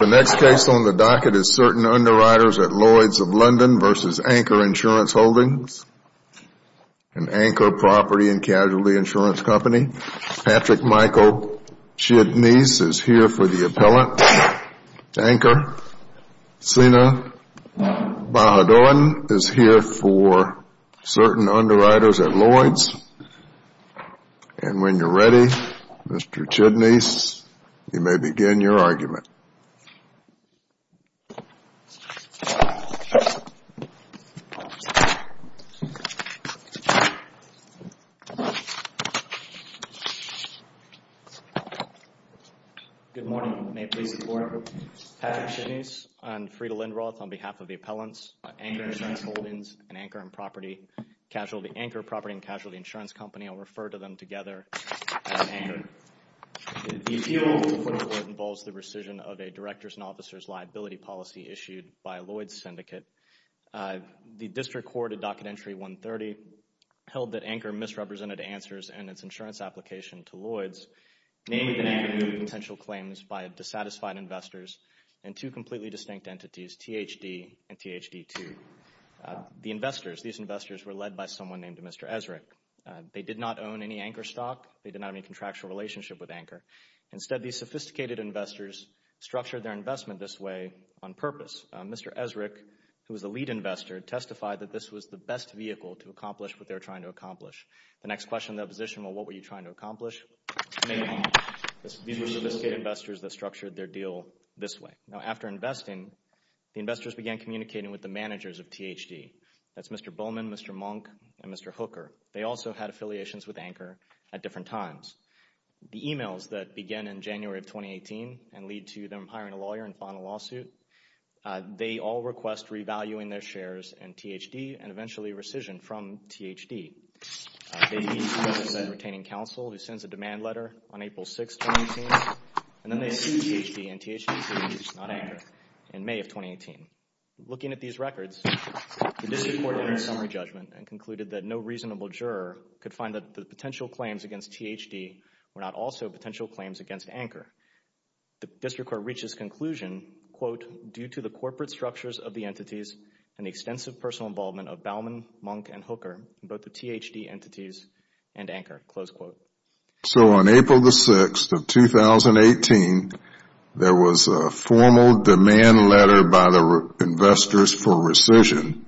The next case on the docket is Certain Underwriters at Lloyds of London versus Anchor Insurance Holdings, an Anchor property and casualty insurance company. Patrick Michael Chidneys is here for the appellant. Anchor Sina Bahadurin is here for Certain Underwriters at Lloyds. And when you're ready, Mr. Chidneys, you may begin your argument. Good morning. May it please the Court? Patrick Chidneys. I'm Freda Lindroth on behalf of the appellants. Anchor Insurance Holdings, an Anchor property and casualty insurance company. I'll refer to them together as Anchor. The appeal for the court involves the rescission of a director's and officer's liability policy issued by Lloyds Syndicate. The district court at Docket Entry 130 held that Anchor misrepresented answers and its insurance application to Lloyds, namely that Anchor made potential claims by disqualified investors and two completely distinct entities, THD and THD2. The investors, these investors were led by someone named Mr. Esrick. They did not own any Anchor stock. They did not have any contractual relationship with Anchor. Instead, these sophisticated investors structured their investment this way on purpose. Mr. Esrick, who was the lead investor, testified that this was the best vehicle to accomplish what they were trying to accomplish. The next question of the opposition, well, what were you trying to accomplish? These were sophisticated investors that structured their deal this way. Now, after investing, the investors began communicating with the managers of THD. That's Mr. Bowman, Mr. Monk, and Mr. Hooker. They also had affiliations with Anchor at different times. The e-mails that began in January of 2018 and lead to them hiring a lawyer and filing a lawsuit, they all request revaluing their shares in THD and eventually rescission from THD. They meet, as I said, with a retaining counsel who sends a demand letter on April 6, 2018, and then they rescind THD and THD2, not Anchor, in May of 2018. Looking at these records, the district court entered a summary judgment and concluded that no reasonable juror could find that the potential claims against THD were not also potential claims against Anchor. The district court reached this conclusion, quote, due to the corporate structures of the entities and the extensive personal involvement of Bowman, Monk, and Hooker, both the THD entities and Anchor, close quote. So on April 6, 2018, there was a formal demand letter by the investors for rescission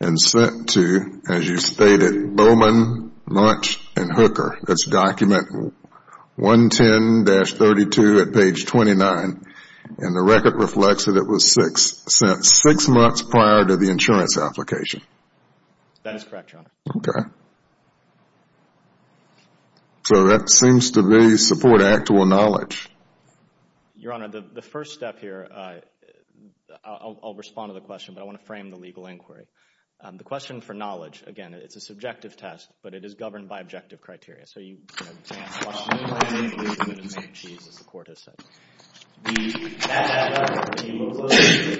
and sent to, as you stated, Bowman, Monk, and Hooker. That's document 110-32 at page 29, and the record reflects that it was sent six months prior to the insurance application. That is correct, Your Honor. Okay. So that seems to support actual knowledge. Your Honor, the first step here, I'll respond to the question, but I want to frame the legal inquiry. The question for knowledge, again, it's a subjective test, but it is governed by objective criteria. So you can't question it, but you can make a case, as the court has said. That letter, if you look closely,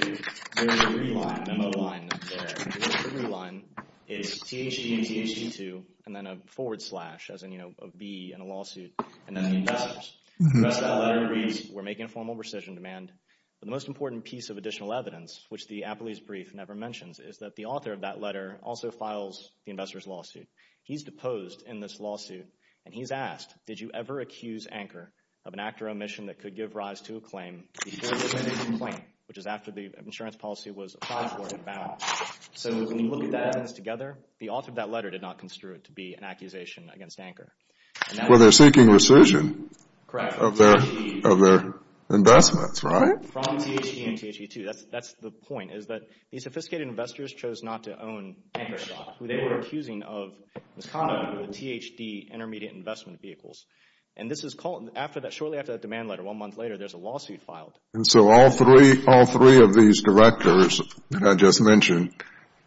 there is a three-line memo line there. The three-line is THD and THD2, and then a forward slash, as in, you know, a B in a lawsuit, and then the investors. The rest of that letter reads, we're making a formal rescission demand. But the most important piece of additional evidence, which the Appellee's Brief never mentions, is that the author of that letter also files the investor's lawsuit. He's deposed in this lawsuit, and he's asked, did you ever accuse Anchor of an act or omission that could give rise to a claim before you can make a complaint, which is after the insurance policy was applied for in Bowman. So when you look at that evidence together, the author of that letter did not construe it to be an accusation against Anchor. Well, they're seeking rescission of their investments, right? From THD and THD2. That's the point, is that these sophisticated investors chose not to own Anchor, who they were accusing of misconduct with THD intermediate investment vehicles. And this is called, shortly after that demand letter, one month later, there's a lawsuit filed. And so all three of these directors that I just mentioned,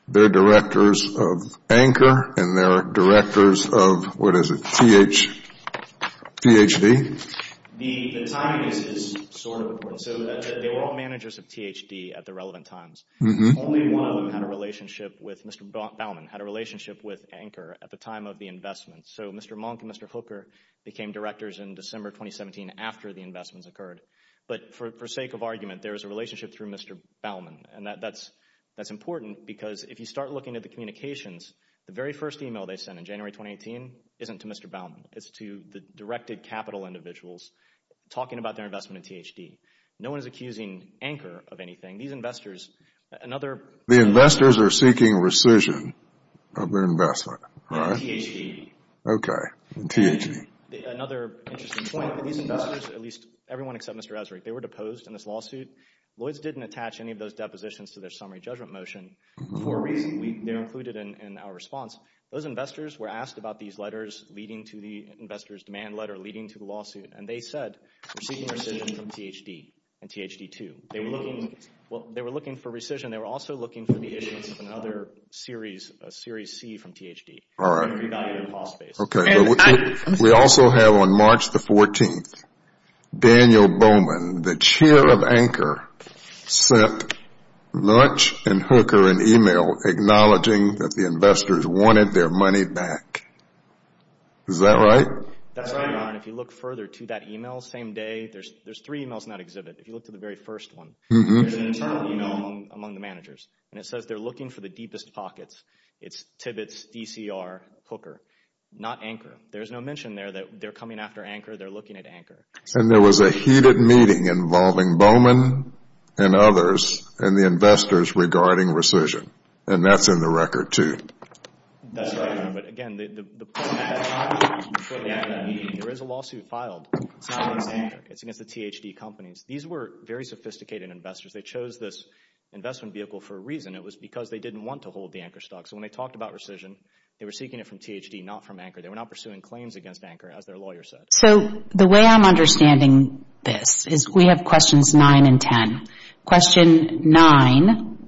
they're directors of Anchor, and they're directors of, what is it, THD? The timing is sort of important. So they were all managers of THD at the relevant times. Only one of them had a relationship with Mr. Bowman, had a relationship with Anchor at the time of the investment. So Mr. Monk and Mr. Hooker became directors in December 2017 after the investments occurred. But for sake of argument, there is a relationship through Mr. Bowman. And that's important because if you start looking at the communications, the very first email they sent in January 2018 isn't to Mr. Bowman. It's to the directed capital individuals talking about their investment in THD. No one is accusing Anchor of anything. These investors, another... The investors are seeking rescission of their investment, right? Okay. THD. Well, they were looking for rescission. They were also looking for the issuance of another Series C from THD. We also have on March the 14th, Daniel Bowman, the chair of Anchor, sent Munch and Hooker an email acknowledging that the investors wanted their money back. Is that right? That's right, Ron. If you look further to that email, same day, there's three emails in that exhibit. If you look to the very first one, there's an internal email among the managers. And it says they're looking for the deepest pockets. It's Tibbetts, DCR, Hooker, not Anchor. There's no mention there that they're coming after Anchor. They're looking at Anchor. And there was a heated meeting involving Bowman and others and the investors regarding rescission. And that's in the record, too. So the way I'm understanding this is we have questions 9 and 10. Question 9,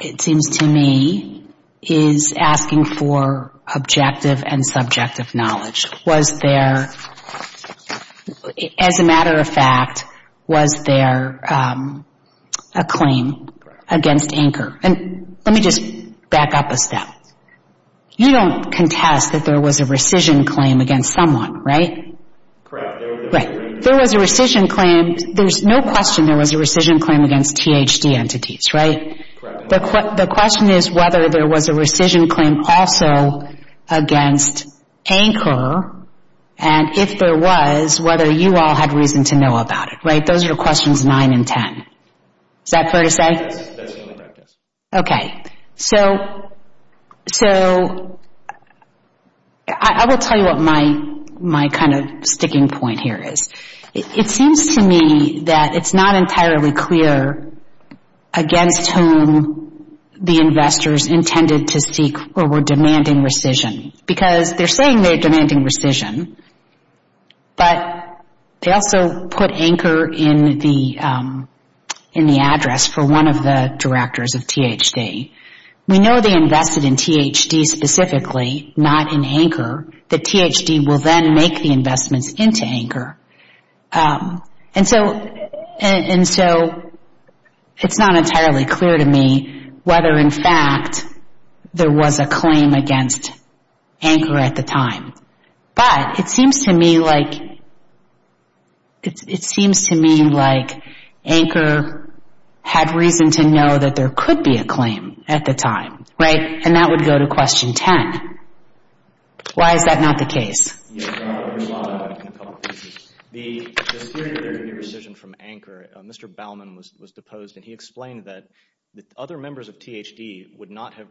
it seems to me, is asking for objective and subjective knowledge. Was there, as a matter of fact, was there a claim against Anchor? And let me just back up a step. You don't contest that there was a rescission claim against someone, right? There was a rescission claim. There's no question there was a rescission claim against THD entities, right? The question is whether there was a rescission claim also against Anchor. And if there was, whether you all had reason to know about it, right? Those are the questions 9 and 10. Is that fair to say? Okay. So I will tell you what my kind of sticking point here is. It seems to me that it's not entirely clear against whom the investors intended to seek or were demanding rescission. Because they're saying they're demanding rescission. But they also put Anchor in the address for one of the directors of THD. We know they invested in THD specifically, not in Anchor. That THD will then make the investments into Anchor. And so it's not entirely clear to me whether, in fact, there was a claim against Anchor at the time. But it seems to me like Anchor had reason to know that there could be a claim at the time, right? And that would go to question 10. Why is that not the case? The theory of the rescission from Anchor, Mr. Baumann was deposed and he explained that other members of THD would not have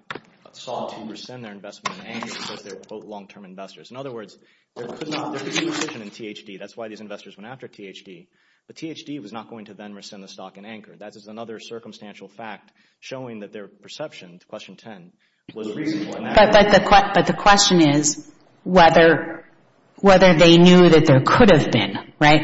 sought to rescind their investment in Anchor because they're, quote, long-term investors. In other words, there could be rescission in THD. That's why these investors went after THD. But THD was not going to then rescind the stock in Anchor. That is another circumstantial fact showing that their perception, question 10, was reasonable. But the question is whether they knew that there could have been, right?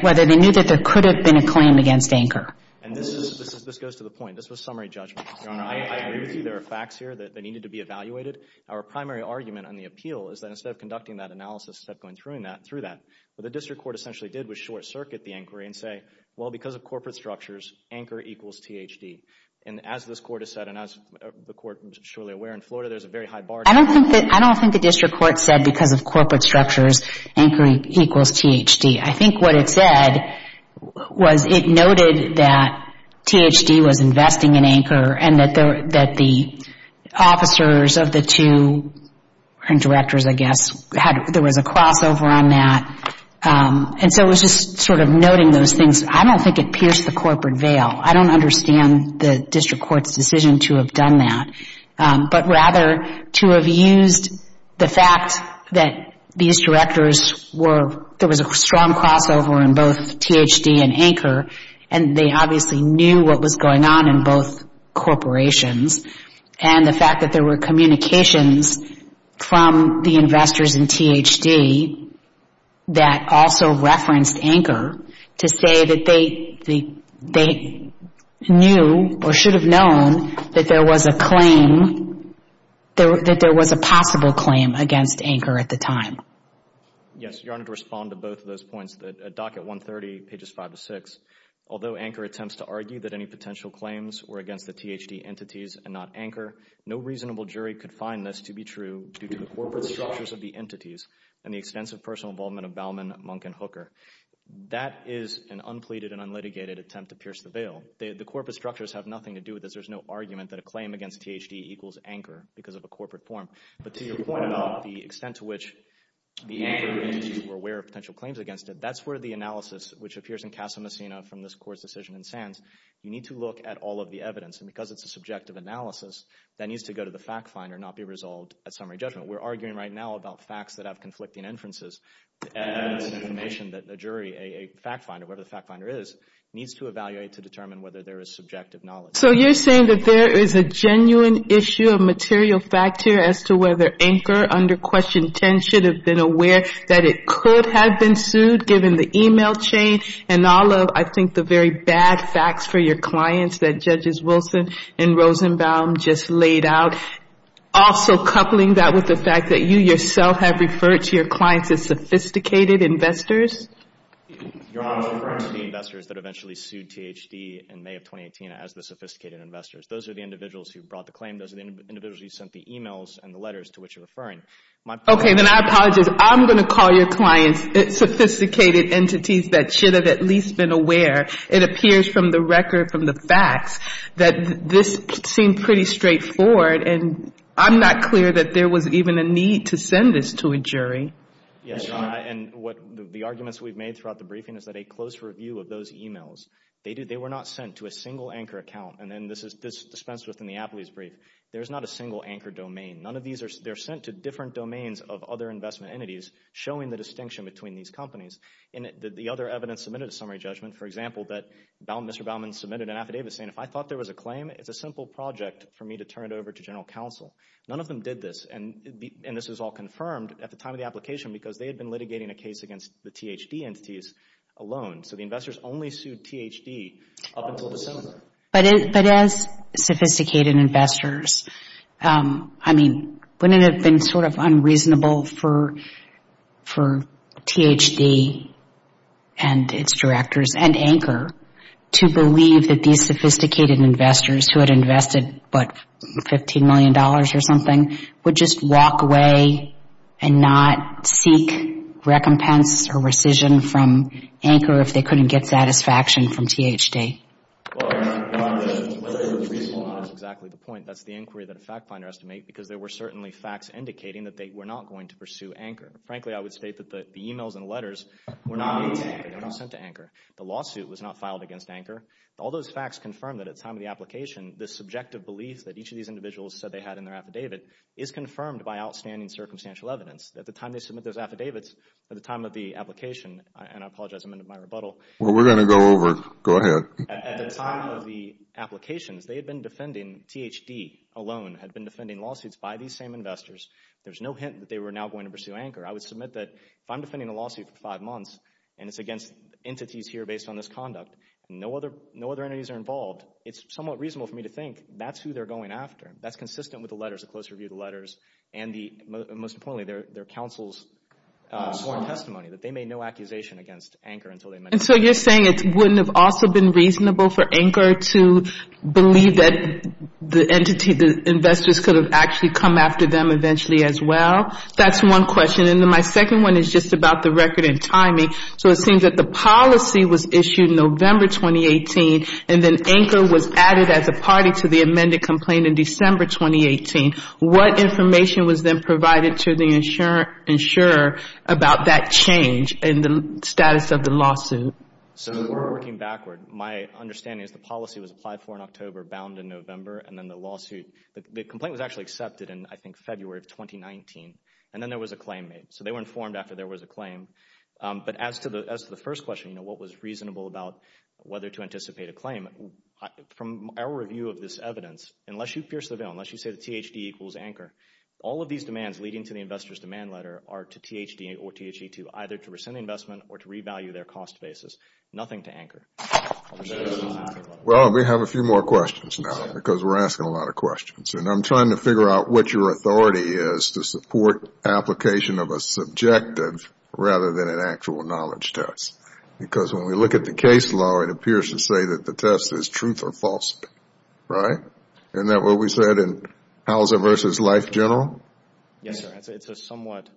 And this goes to the point. This was summary judgment. Your Honor, I agree with you. There are facts here that needed to be evaluated. Our primary argument on the appeal is that instead of conducting that analysis, instead of going through that, what the district court essentially did was short-circuit the inquiry and say, well, because of corporate structures, Anchor equals THD. And as this Court has said and as the Court is surely aware in Florida, there's a very high bar. I don't think the district court said because of corporate structures, Anchor equals THD. I think what it said was it noted that THD was investing in Anchor and that the officers of the two directors, I guess, there was a crossover on that. And so it was just sort of noting those things. I don't think it pierced the corporate veil. I don't understand the district court's decision to have done that. But rather to have used the fact that these directors were, there was a strong crossover in both THD and Anchor, and they obviously knew what was going on in both corporations. And the fact that there were communications from the investors in THD that also referenced Anchor to say that they were investing in Anchor. They knew or should have known that there was a claim, that there was a possible claim against Anchor at the time. Yes. Your Honor, to respond to both of those points, the docket 130, pages 5 to 6. Although Anchor attempts to argue that any potential claims were against the THD entities and not Anchor, no reasonable jury could find this to be true due to the corporate structures of the entities and the extensive personal involvement of Bauman, Monk, and Hooker. That is an unpleaded and unlitigated attempt to pierce the veil. The corporate structures have nothing to do with this. There's no argument that a claim against THD equals Anchor because of a corporate form. But to your point about the extent to which the Anchor entities were aware of potential claims against it, that's where the analysis, which appears in Casa Messina from this court's decision in Sands, you need to look at all of the evidence. And because it's a subjective analysis, that needs to go to the fact finder and not be resolved at summary judgment. We're arguing right now about facts that have conflicting inferences and information that the jury, a fact finder, whatever the fact finder is, needs to evaluate to determine whether there is subjective knowledge. So you're saying that there is a genuine issue of material fact here as to whether Anchor under Question 10 should have been aware that it could have been sued given the email chain and all of, I think, the very bad facts for your clients that Judges Wilson and Rosenbaum just laid out. Also coupling that with the fact that you yourself have referred to your clients as sophisticated investors? Your Honor, I was referring to the investors that eventually sued THD in May of 2018 as the sophisticated investors. Those are the individuals who brought the claim. Those are the individuals who sent the emails and the letters to which you're referring. Okay, then I apologize. I'm going to call your clients sophisticated entities that should have at least been aware. It appears from the record, from the facts, that this seemed pretty straightforward. And I'm not clear that there was even a need to send this to a jury. Yes, Your Honor, and the arguments we've made throughout the briefing is that a close review of those emails, they were not sent to a single Anchor account. And this is dispensed with in the Apley's brief. There's not a single Anchor domain. None of these are sent to different domains of other investment entities, showing the distinction between these companies. And the other evidence submitted to summary judgment, for example, that Mr. Baumann submitted an affidavit saying, if I thought there was a claim, it's a simple project for me to turn it over to General Counsel. None of them did this, and this was all confirmed at the time of the application because they had been litigating a case against the THD entities alone. So the investors only sued THD up until December. But as sophisticated investors, I mean, wouldn't it have been sort of unreasonable for THD and its directors and Anchor to believe that these sophisticated investors who had invested, what, $15 million or something, would just walk away and not seek recompense or rescission from Anchor if they couldn't get satisfaction from THD? That's exactly the point. That's the inquiry that a fact finder has to make because there were certainly facts indicating that they were not going to pursue Anchor. Frankly, I would state that the emails and letters were not sent to Anchor. The lawsuit was not filed against Anchor. All those facts confirm that at the time of the application, the subjective beliefs that each of these individuals said they had in their affidavit is confirmed by outstanding circumstantial evidence. At the time they submit those affidavits, at the time of the application, and I apologize, a minute of my rebuttal. Well, we're going to go over. Go ahead. At the time of the applications, they had been defending, THD alone had been defending lawsuits by these same investors. There's no hint that they were now going to pursue Anchor. I would submit that if I'm defending a lawsuit for five months and it's against entities here based on this conduct and no other entities are involved, it's somewhat reasonable for me to think that's who they're going after. That's consistent with the letters, a close review of the letters and most importantly, their counsel's sworn testimony that they made no accusation against Anchor until they met. And so you're saying it wouldn't have also been reasonable for Anchor to believe that the entity, the investors could have actually come after them eventually as well? That's one question. And then my second one is just about the record and timing. So it seems that the policy was issued in November 2018 and then Anchor was added as a party to the amended complaint in December 2018. What information was then provided to the insurer about that change in the status of the lawsuit? So we're working backward. My understanding is the policy was applied for in October, bound in November, and then the lawsuit, the complaint was actually accepted in, I think, February of 2019. And then there was a claim made. So they were informed after there was a claim. But as to the first question, what was reasonable about whether to anticipate a claim, from our review of this evidence, unless you pierce the veil, unless you say that THD equals Anchor, all of these demands leading to the investor's demand letter are to THD or THD2, either to rescind the investment or to revalue their cost basis. Nothing to Anchor. Well, we have a few more questions now because we're asking a lot of questions. And I'm trying to figure out what your authority is to support application of a subjective rather than an actual knowledge test. Because when we look at the case law, it appears to say that the test is truth or falsity, right? Isn't that what we said in Hauser v. Life General? Yes, sir. It's a somewhat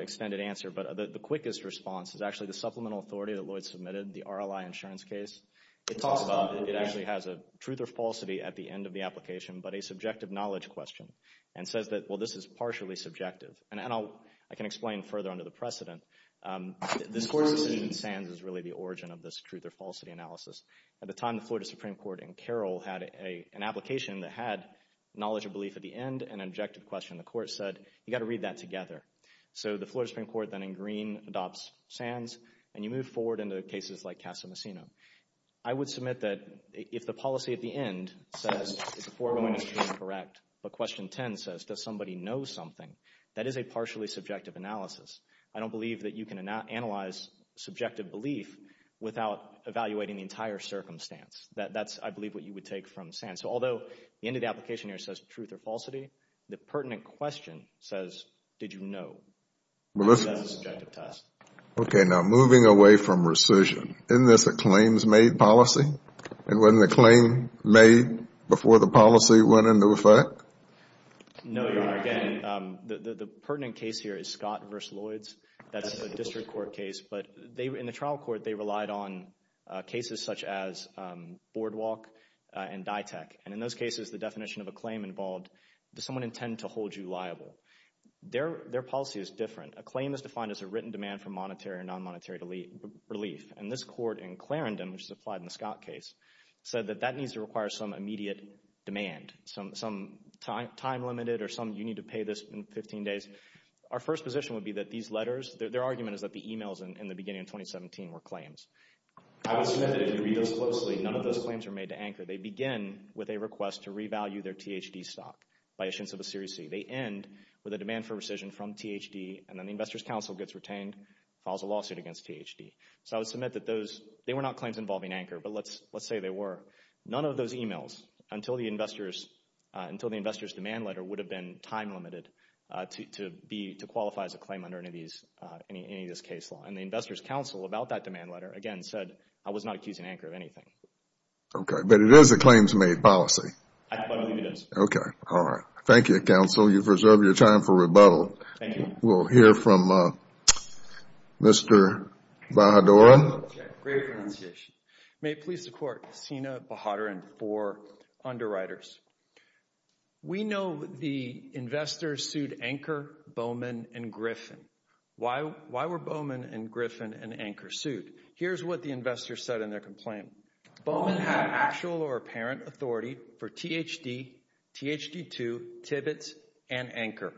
extended answer. But the quickest response is actually the supplemental authority that Lloyd submitted, the RLI insurance case. It actually has a truth or falsity at the end of the application, but a subjective knowledge question and says that, well, this is partially subjective. And I can explain further under the precedent. This court's decision in Sands is really the origin of this truth or falsity analysis. At the time, the Florida Supreme Court in Carroll had an application that had knowledge of belief at the end and an objective question. The court said, you've got to read that together. So the Florida Supreme Court then, in green, adopts Sands. And you move forward into cases like Casa Messina. I would submit that if the policy at the end says the foregoing is incorrect, but question 10 says, does somebody know something, that is a partially subjective analysis. I don't believe that you can analyze subjective belief without evaluating the entire circumstance. That's, I believe, what you would take from Sands. So although the end of the application here says truth or falsity, the pertinent question says, did you know? That's a subjective test. Okay. Now, moving away from rescission, isn't this a claims-made policy? It wasn't a claim made before the policy went into effect? No, Your Honor. Again, the pertinent case here is Scott v. Lloyds. That's a district court case. But in the trial court, they relied on cases such as Boardwalk and Dytek. And in those cases, the definition of a claim involved, does someone intend to hold you liable? Their policy is different. A claim is defined as a written demand for monetary or non-monetary relief. And this court in Clarendon, which is applied in the Scott case, said that that needs to require some immediate demand, some time limited or some, you need to pay this in 15 days. Our first position would be that these letters, their argument is that the e-mails in the beginning of 2017 were claims. I would submit that if you read those closely, none of those claims were made to Anchor. They begin with a request to revalue their THD stock by a sense of a seriousty. They end with a demand for rescission from THD, and then the Investors Council gets retained, files a lawsuit against THD. So I would submit that those, they were not claims involving Anchor, but let's say they were. None of those e-mails until the Investors, until the Investors demand letter would have been time limited to be, to qualify as a claim under any of these, any of this case law. And the Investors Council about that demand letter, again, said I was not accusing Anchor of anything. Okay, but it is a claims made policy. I believe it is. Okay, all right. Thank you, Counsel. You've reserved your time for rebuttal. Thank you. We'll hear from Mr. Bahadur. Great pronunciation. May it please the Court, Sina Bahadur and four underwriters. We know the Investors sued Anchor, Bowman, and Griffin. Why were Bowman and Griffin and Anchor sued? Here's what the Investors said in their complaint. Bowman had actual or apparent authority for THD, THD2, Tibbetts, and Anchor.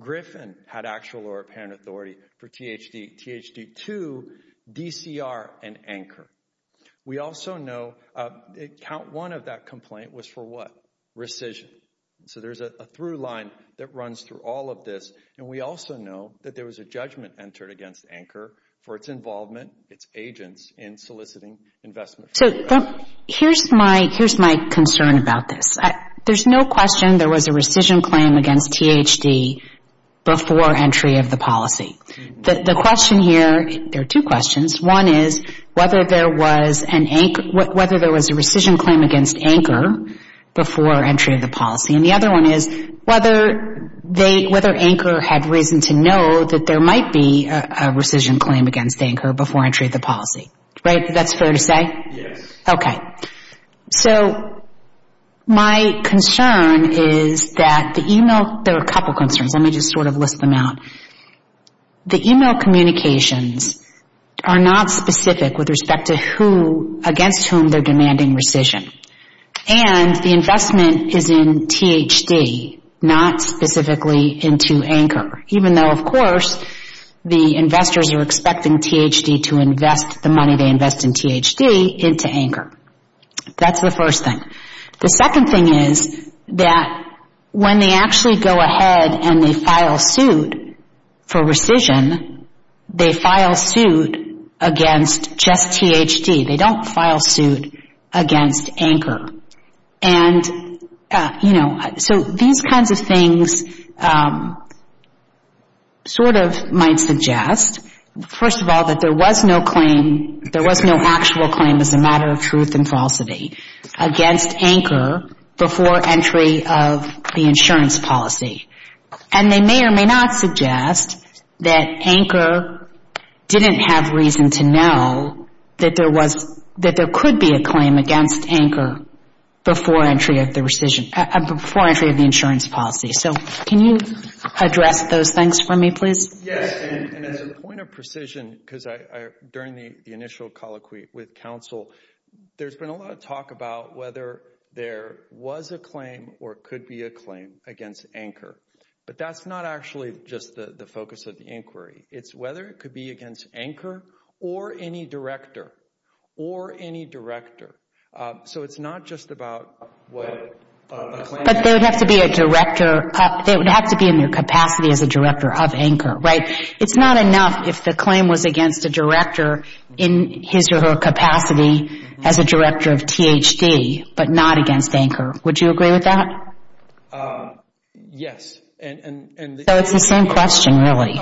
Griffin had actual or apparent authority for THD, THD2, DCR, and Anchor. We also know that count one of that complaint was for what? Rescission. So there's a through line that runs through all of this. And we also know that there was a judgment entered against Anchor for its involvement, its agents, in soliciting investment. So here's my concern about this. There's no question there was a rescission claim against THD before entry of the policy. The question here, there are two questions. One is whether there was a rescission claim against Anchor before entry of the policy. And the other one is whether Anchor had reason to know that there might be a rescission claim against Anchor before entry of the policy. Right? That's fair to say? Yes. So my concern is that the email, there are a couple concerns. Let me just sort of list them out. The email communications are not specific with respect to who, against whom they're demanding rescission. And the investment is in THD, not specifically into Anchor. Even though, of course, the investors are expecting THD to invest the money they invest in THD, into Anchor. That's the first thing. The second thing is that when they actually go ahead and they file suit for rescission, they file suit against just THD. They don't file suit against Anchor. And, you know, so these kinds of things sort of might suggest, first of all, that there was no claim, there was no actual claim as a matter of truth and falsity against Anchor before entry of the insurance policy. And they may or may not suggest that Anchor didn't have reason to know that there was, that there could be a claim against Anchor before entry of the rescission, before entry of the insurance policy. So can you address those things for me, please? Yes, and as a point of precision, because during the initial colloquy with counsel, there's been a lot of talk about whether there was a claim or could be a claim against Anchor. But that's not actually just the focus of the inquiry. It's whether it could be against Anchor or any director, or any director. So it's not just about what a claim is. But they would have to be a director, they would have to be in their capacity as a director of Anchor, right? It's not enough if the claim was against a director in his or her capacity as a director of THD, but not against Anchor. Would you agree with that? Yes. So it's the same question, really.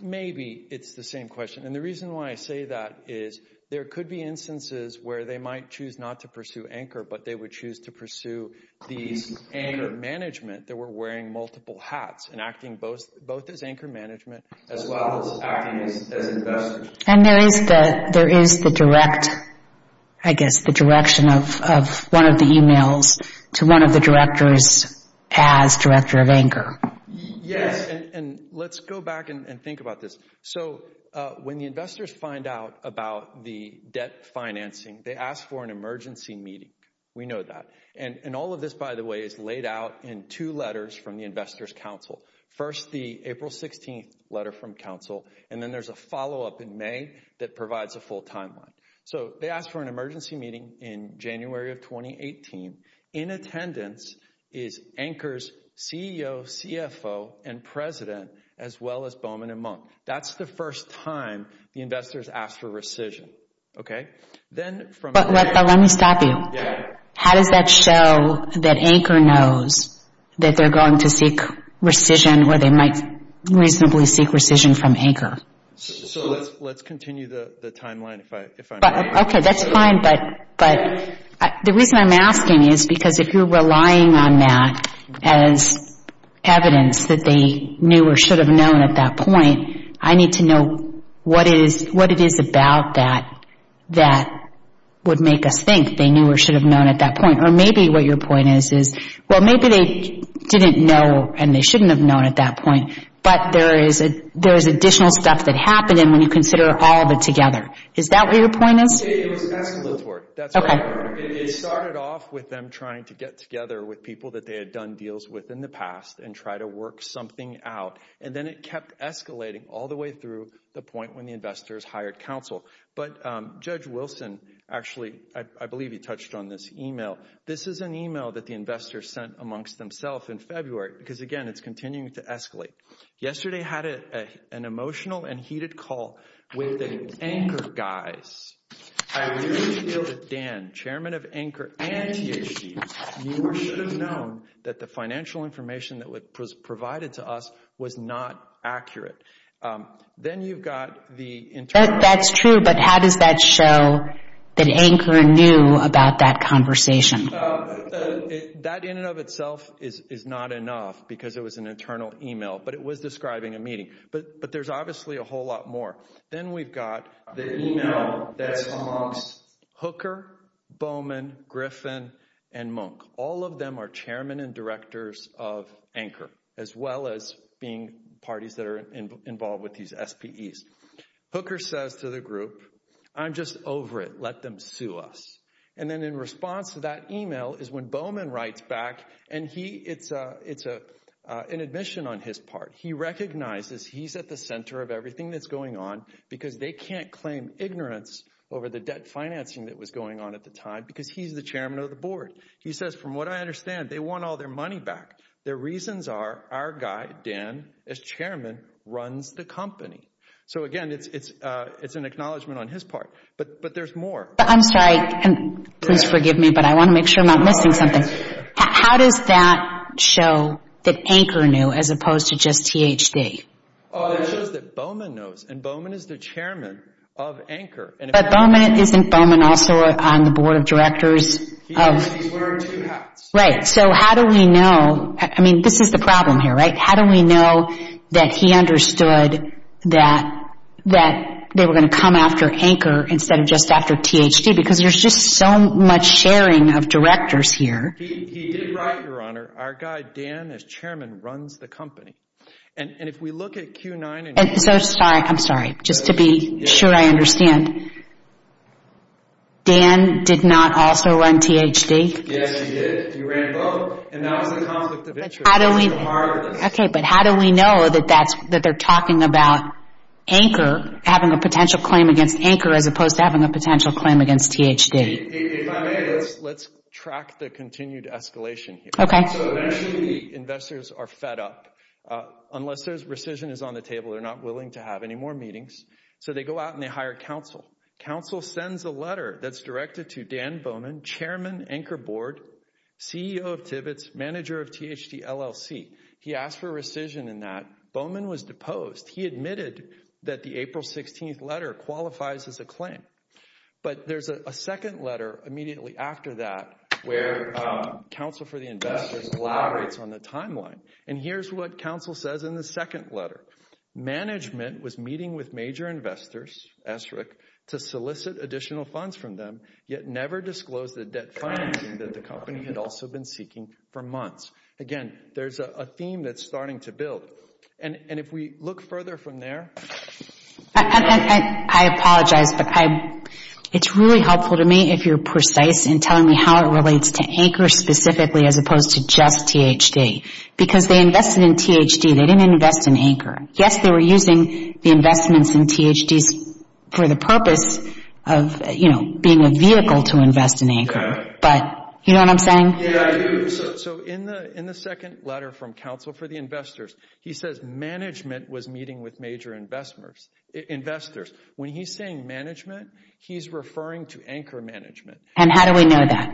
Maybe it's the same question. And the reason why I say that is there could be instances where they might choose not to pursue Anchor, but they would choose to pursue the Anchor management that were wearing multiple hats and acting both as Anchor management as well as acting as investors. And there is the direct, I guess, the direction of one of the emails to one of the directors as director of Anchor. Yes. And let's go back and think about this. So when the investors find out about the debt financing, they ask for an emergency meeting. We know that. And all of this, by the way, is laid out in two letters from the Investors Council. First, the April 16th letter from Council. And then there's a follow up in May that provides a full timeline. So they ask for an emergency meeting in January of 2018. In attendance is Anchor's CEO, CFO, and president, as well as Bowman and Monk. That's the first time the investors ask for rescission. But let me stop you. How does that show that Anchor knows that they're going to seek rescission or they might reasonably seek rescission from Anchor? So let's continue the timeline if I may. Okay. That's fine. But the reason I'm asking is because if you're relying on that as evidence that they knew or should have known at that point, I need to know what it is about that that would make us think they knew or should have known at that point. Or maybe what your point is is, well, maybe they didn't know and they shouldn't have known at that point. But there is additional stuff that happened when you consider all of it together. Is that what your point is? It started off with them trying to get together with people that they had done deals with in the past and try to work something out. And then it kept escalating all the way through the point when the investors hired Council. But Judge Wilson actually, I believe he touched on this email. This is an email that the investors sent amongst themselves in February. Because again, it's continuing to escalate. Yesterday had an emotional and heated call with the Anchor guys. I really feel that Dan, Chairman of Anchor and THD, knew or should have known that the financial information that was provided to us was not accurate. That's true. But how does that show that Anchor knew about that conversation? That in and of itself is not enough because it was an internal email. But it was describing a meeting. But there's obviously a whole lot more. Then we've got the email that's amongst Hooker, Bowman, Griffin and Monk. All of them are chairmen and directors of Anchor. As well as being parties that are involved with these SPEs. Hooker says to the group, I'm just over it. Let them sue us. And then in response to that email is when Bowman writes back. And it's an admission on his part. He recognizes he's at the center of everything that's going on because they can't claim ignorance over the debt financing that was going on at the time. Because he's the chairman of the board. He says, from what I understand, they want all their money back. Their reasons are our guy, Dan, as chairman, runs the company. So again, it's an acknowledgment on his part. But there's more. How does that show that Anchor knew as opposed to just THD? It shows that Bowman knows. And Bowman is the chairman of Anchor. But Bowman, isn't Bowman also on the board of directors? Right. So how do we know? I mean, this is the problem here, right? How do we know that he understood that they were going to come after Anchor instead of just after THD? Because there's just so much sharing of directors here. He did write, Your Honor, our guy, Dan, as chairman, runs the company. And if we look at Q9... I'm sorry. Just to be sure I understand. Dan did not also run THD? Yes, he did. He ran both. And that was the conflict of interest. But how do we know that they're talking about Anchor having a potential claim against Anchor as opposed to having a potential claim against THD? If I may, let's track the continued escalation here. So eventually the investors are fed up. Unless there's rescission is on the table, they're not willing to have any more meetings. So they go out and they hire counsel. Counsel sends a letter that's directed to Dan Bowman, chairman, Anchor board, CEO of Tibbetts, manager of THD LLC. He asked for rescission in that. Bowman was deposed. He admitted that the April 16th letter qualifies as a claim. But there's a second letter immediately after that where counsel for the investors elaborates on the timeline. And here's what counsel says in the second letter. Management was meeting with major investors, ESRIC, to solicit additional funds from them, yet never disclosed the debt financing that the company had also been seeking for months. Again, there's a theme that's starting to build. And if we look further from there. I apologize, but it's really helpful to me if you're precise in telling me how it relates to Anchor specifically as opposed to just THD. Because they invested in THD. They didn't invest in Anchor. Yes, they were using the investments in THDs for the purpose of being a vehicle to invest in Anchor. But you know what I'm saying? Yeah, I do. So in the second letter from counsel for the investors, he says management was meeting with major investors. When he's saying management, he's referring to Anchor management. And how do we know that?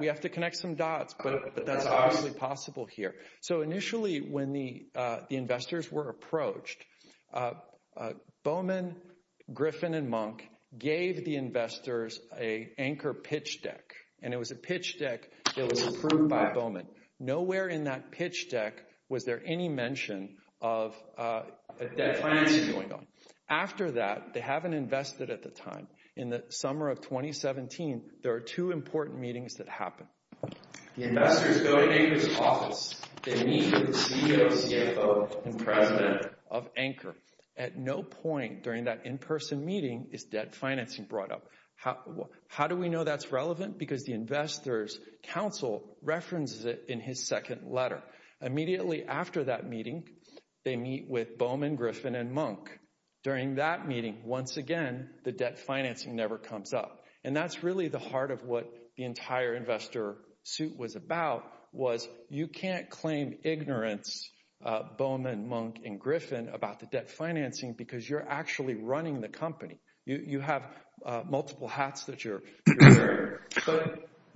We have to connect some dots, but that's obviously possible here. So initially, when the investors were approached, Bowman, Griffin and Monk gave the investors a Anchor pitch deck. And it was a pitch deck that was approved by Bowman. Nowhere in that pitch deck was there any mention of a debt financing going on. After that, they haven't invested at the time. In the summer of 2017, there are two important meetings that happen. The investors go to Anchor's office. They meet with the CEO, CFO and president of Anchor. At no point during that in-person meeting is debt financing brought up. How do we know that's relevant? Because the investors' counsel references it in his second letter. Immediately after that meeting, they meet with Bowman, Griffin and Monk. During that meeting, once again, the debt financing never comes up. And that's really the heart of what the entire investor suit was about, was you can't claim ignorance, Bowman, Monk and Griffin, about the debt financing because you're actually running the company. You have multiple hats that you're wearing.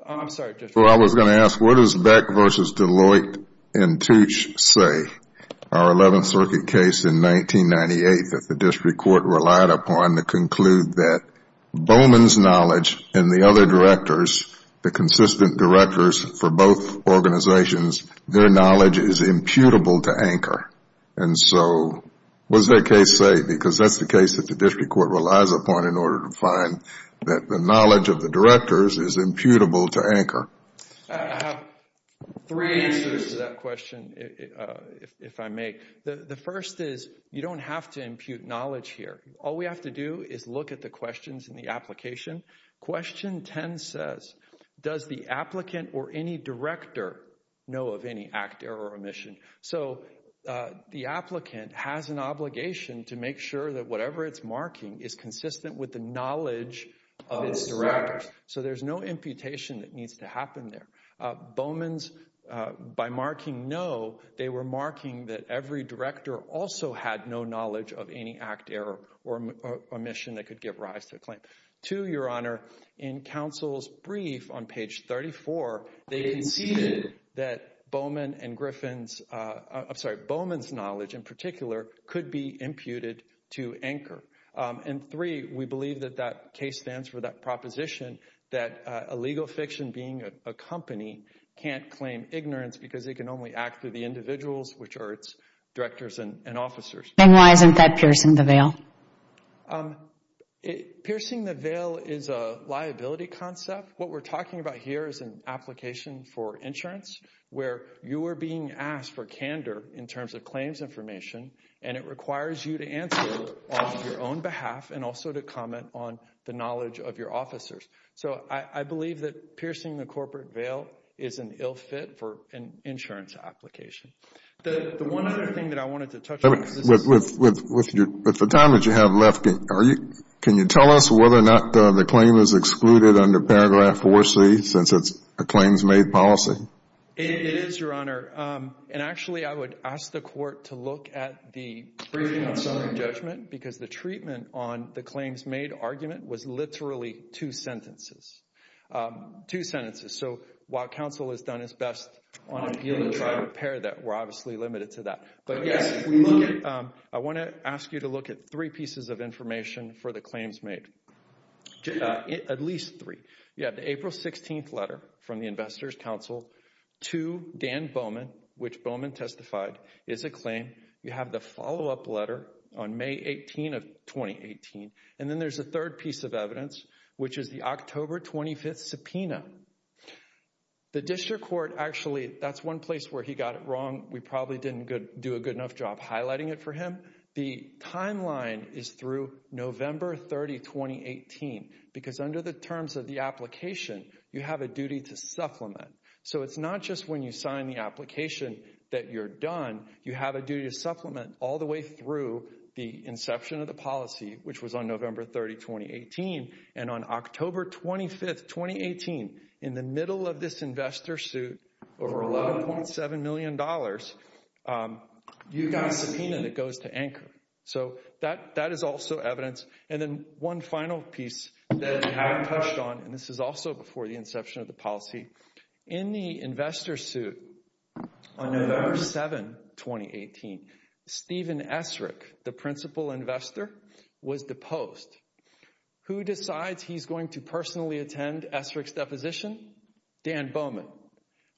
I was going to ask, what does Beck v. Deloitte and Tooch say? Our 11th Circuit case in 1998 that the district court relied upon to conclude that Bowman's knowledge and the other directors, the consistent directors for both organizations, their knowledge is imputable to Anchor. And so what does their case say? Because that's the case that the district court relies upon in order to find that the knowledge of the directors is imputable to Anchor. I have three answers to that question, if I may. The first is you don't have to impute knowledge here. All we have to do is look at the questions in the application. Question 10 says, does the applicant or any director know of any act, error or omission? So the applicant has an obligation to make sure that whatever it's marking is consistent with the knowledge of its directors. So there's no imputation that needs to happen there. Bowman's by marking no, they were marking that every director also had no knowledge of any act, error or omission that could give rise to a claim. Two, Your Honor, in counsel's brief on page 34, they conceded that Bowman and Griffin's, I'm sorry, Bowman's knowledge in particular could be imputed to Anchor. And three, we believe that that case stands for that proposition that a legal fiction being a company can't claim ignorance because it can only act through the individuals, which are its directors and officers. And why isn't that piercing the veil? Piercing the veil is a liability concept. What we're talking about here is an application for insurance where you are being asked for candor in terms of claims information and it requires you to answer on your own behalf and also to comment on the knowledge of your officers. So I believe that piercing the corporate veil is an ill fit for an insurance application. The one other thing that I wanted to touch on. With the time that you have left, can you tell us whether or not the claim is excluded under paragraph 4C since it's a claims-made policy? It is, Your Honor. And actually, I would ask the court to look at the briefing on summary judgment because the treatment on the claims-made argument was literally two sentences. So while counsel has done its best on appeal and trial and repair, we're obviously limited to that. But yes, I want to ask you to look at three pieces of information for the claims made. At least three. You have the April 16th letter from the Investors' Counsel to Dan Bowman, which Bowman testified is a claim. You have the follow-up letter on May 18 of 2018. And then there's a third piece of evidence, which is the October 25th subpoena. The district court actually, that's one place where he got it wrong. We probably didn't do a good enough job highlighting it for him. The timeline is through November 30, 2018 because under the terms of the application, you have a duty to supplement. So it's not just when you sign the application that you're done. You have a duty to supplement all the way through the inception of the policy, which was on November 30, 2018. And on October 25, 2018, in the middle of this investor suit, over $11.7 million, you got a subpoena that goes to Anchor. So that is also evidence. And then one final piece that I haven't touched on, and this is also before the inception of the policy. In the investor suit, on November 7, 2018, Stephen Essrich, the principal investor, was deposed. Who decides he's going to personally attend Essrich's deposition? Dan Bowman.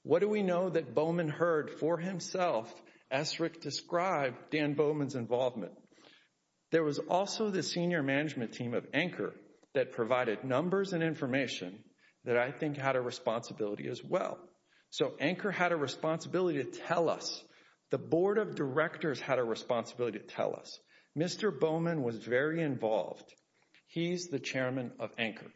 What do we know that Bowman heard for himself Essrich describe Dan Bowman's involvement? There was also the senior management team of Anchor that provided numbers and information that I think had a responsibility as well. So Anchor had a responsibility to tell us. The board of directors had a responsibility to tell us. Mr. Bowman was very involved. He's the chairman of Anchor.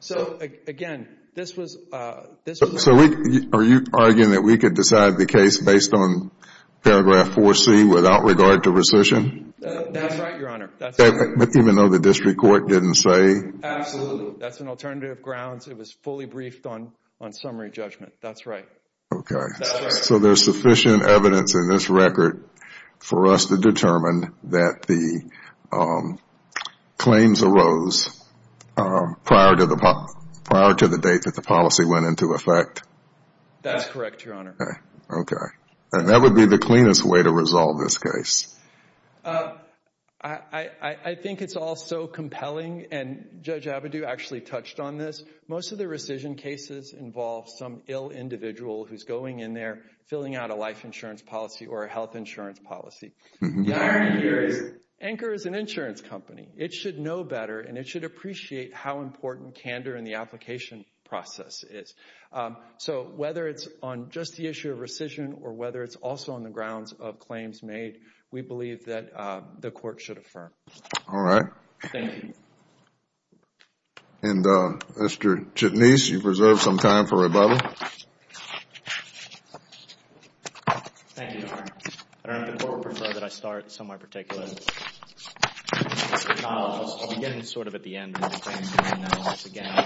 So, again, this was... So are you arguing that we could decide the case based on paragraph 4C without regard to rescission? That's right, Your Honor. Even though the district court didn't say? Absolutely. That's an alternative grounds. It was fully briefed on summary judgment. That's right. Okay. So there's sufficient evidence in this record for us to determine that the claims arose prior to the date that the policy went into effect? That's correct, Your Honor. Okay. And that would be the cleanest way to resolve this case. I think it's all so compelling, and Judge Avedu actually touched on this. Most of the rescission cases involve some ill individual who's going in there, filling out a life insurance policy or a health insurance policy. The irony here is Anchor is an insurance company. It should know better, and it should appreciate how important candor in the application process is. So whether it's on just the issue of rescission or whether it's also on the grounds of claims made, we believe that the court should affirm. All right. Thank you. And Mr. Chitnis, you've reserved some time for rebuttal. Thank you, Your Honor. I don't know if the court would prefer that I start somewhere particular. I'll begin sort of at the end. I'll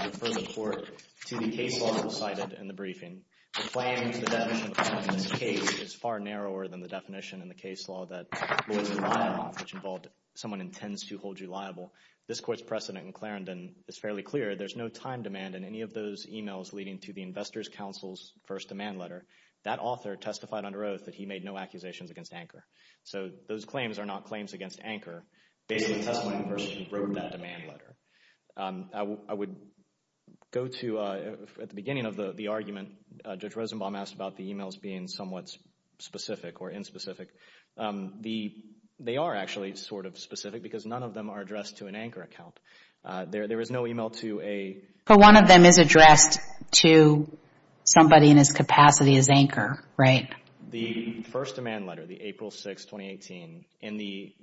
refer the court to the case law cited in the briefing. The claim is the definition of a claim in this case is far narrower than the definition in the case law that lawyers are liable, which involved someone intends to hold you liable. This court's precedent in Clarendon is fairly clear. There's no time demand in any of those emails leading to the Investors' Counsel's first demand letter. That author testified under oath that he made no accusations against Anker. So those claims are not claims against Anker. Basically, the testimony in question wrote that demand letter. I would go to, at the beginning of the argument, Judge Rosenbaum asked about the emails being somewhat specific or inspecific. They are actually sort of specific because none of them are addressed to an Anker account. There is no email to a- But one of them is addressed to somebody in his capacity as Anker, right? The first demand letter, the April 6, 2018, in the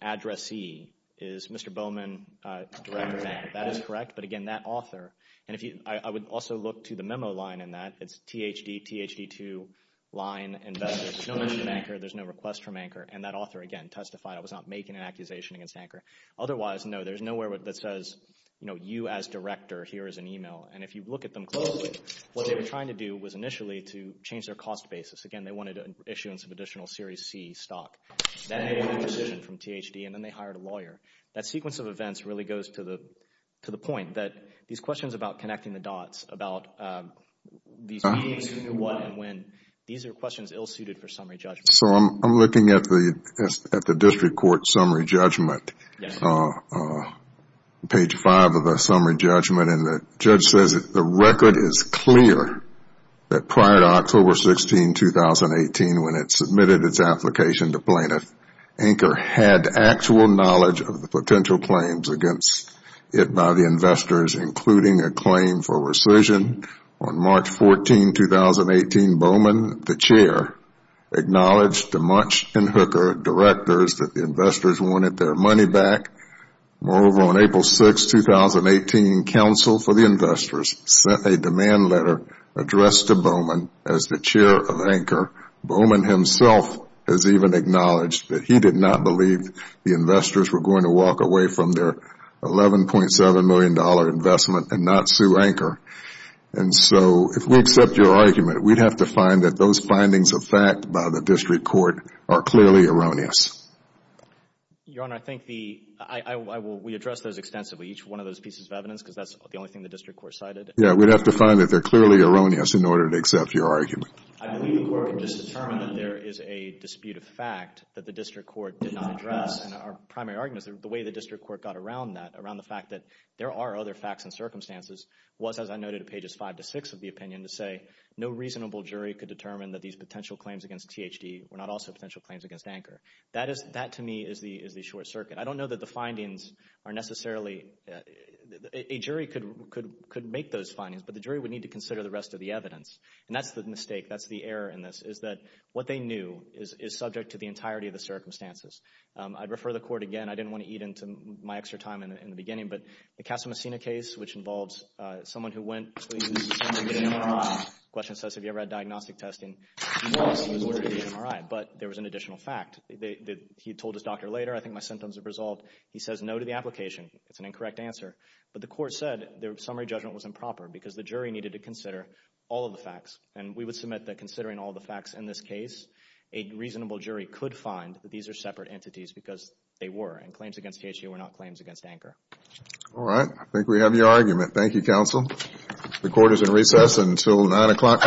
addressee is Mr. Bowman, Director of Anker. That is correct. But again, that author, and I would also look to the memo line in that. It's THD, THD2 line, Investors. There's no mention of Anker. There's no request from Anker. And that author, again, testified. I was not making an accusation against Anker. Otherwise, no, there's nowhere that says, you know, you as director, here is an email. And if you look at them closely, what they were trying to do was initially to change their cost basis. Again, they wanted issuance of additional Series C stock. That made a decision from THD, and then they hired a lawyer. That sequence of events really goes to the point that these questions about connecting the dots, about these meetings, who, what, and when, these are questions ill-suited for summary judgment. So I'm looking at the district court summary judgment, page five of the summary judgment. And the judge says the record is clear that prior to October 16, 2018, when it submitted its application to plaintiff, Anker had actual knowledge of the potential claims against it by the investors, including a claim for rescission on March 14, 2018. Bowman, the chair, acknowledged to Munch and Hooker, directors, that the investors wanted their money back. Moreover, on April 6, 2018, counsel for the investors sent a demand letter addressed to Bowman as the chair of Anker. Bowman himself has even acknowledged that he did not believe the investors were going to walk away from their $11.7 million investment and not sue Anker. And so if we accept your argument, we'd have to find that those findings of fact by the district court are clearly erroneous. Your Honor, I think the – we address those extensively, each one of those pieces of evidence, because that's the only thing the district court cited. Yeah, we'd have to find that they're clearly erroneous in order to accept your argument. I believe the court can just determine that there is a dispute of fact that the district court did not address. And our primary argument is the way the district court got around that, around the fact that there are other facts and circumstances, was, as I noted at pages 5 to 6 of the opinion, to say no reasonable jury could determine that these potential claims against THD were not also potential claims against Anker. That, to me, is the short circuit. I don't know that the findings are necessarily – a jury could make those findings, but the jury would need to consider the rest of the evidence. And that's the mistake, that's the error in this, is that what they knew is subject to the entirety of the circumstances. I'd refer the court again. I didn't want to eat into my extra time in the beginning, but the Casa Messina case, which involves someone who went to use a summary MRI. The question says, have you ever had diagnostic testing? He was ordered to use an MRI, but there was an additional fact. He told his doctor later, I think my symptoms have resolved. He says no to the application. It's an incorrect answer. But the court said the summary judgment was improper because the jury needed to consider all of the facts. And we would submit that considering all the facts in this case, a reasonable jury could find that these are separate entities because they were. And claims against THD were not claims against Anker. All right. I think we have your argument. Thank you, counsel. The court is in recess until 9 o'clock tomorrow morning.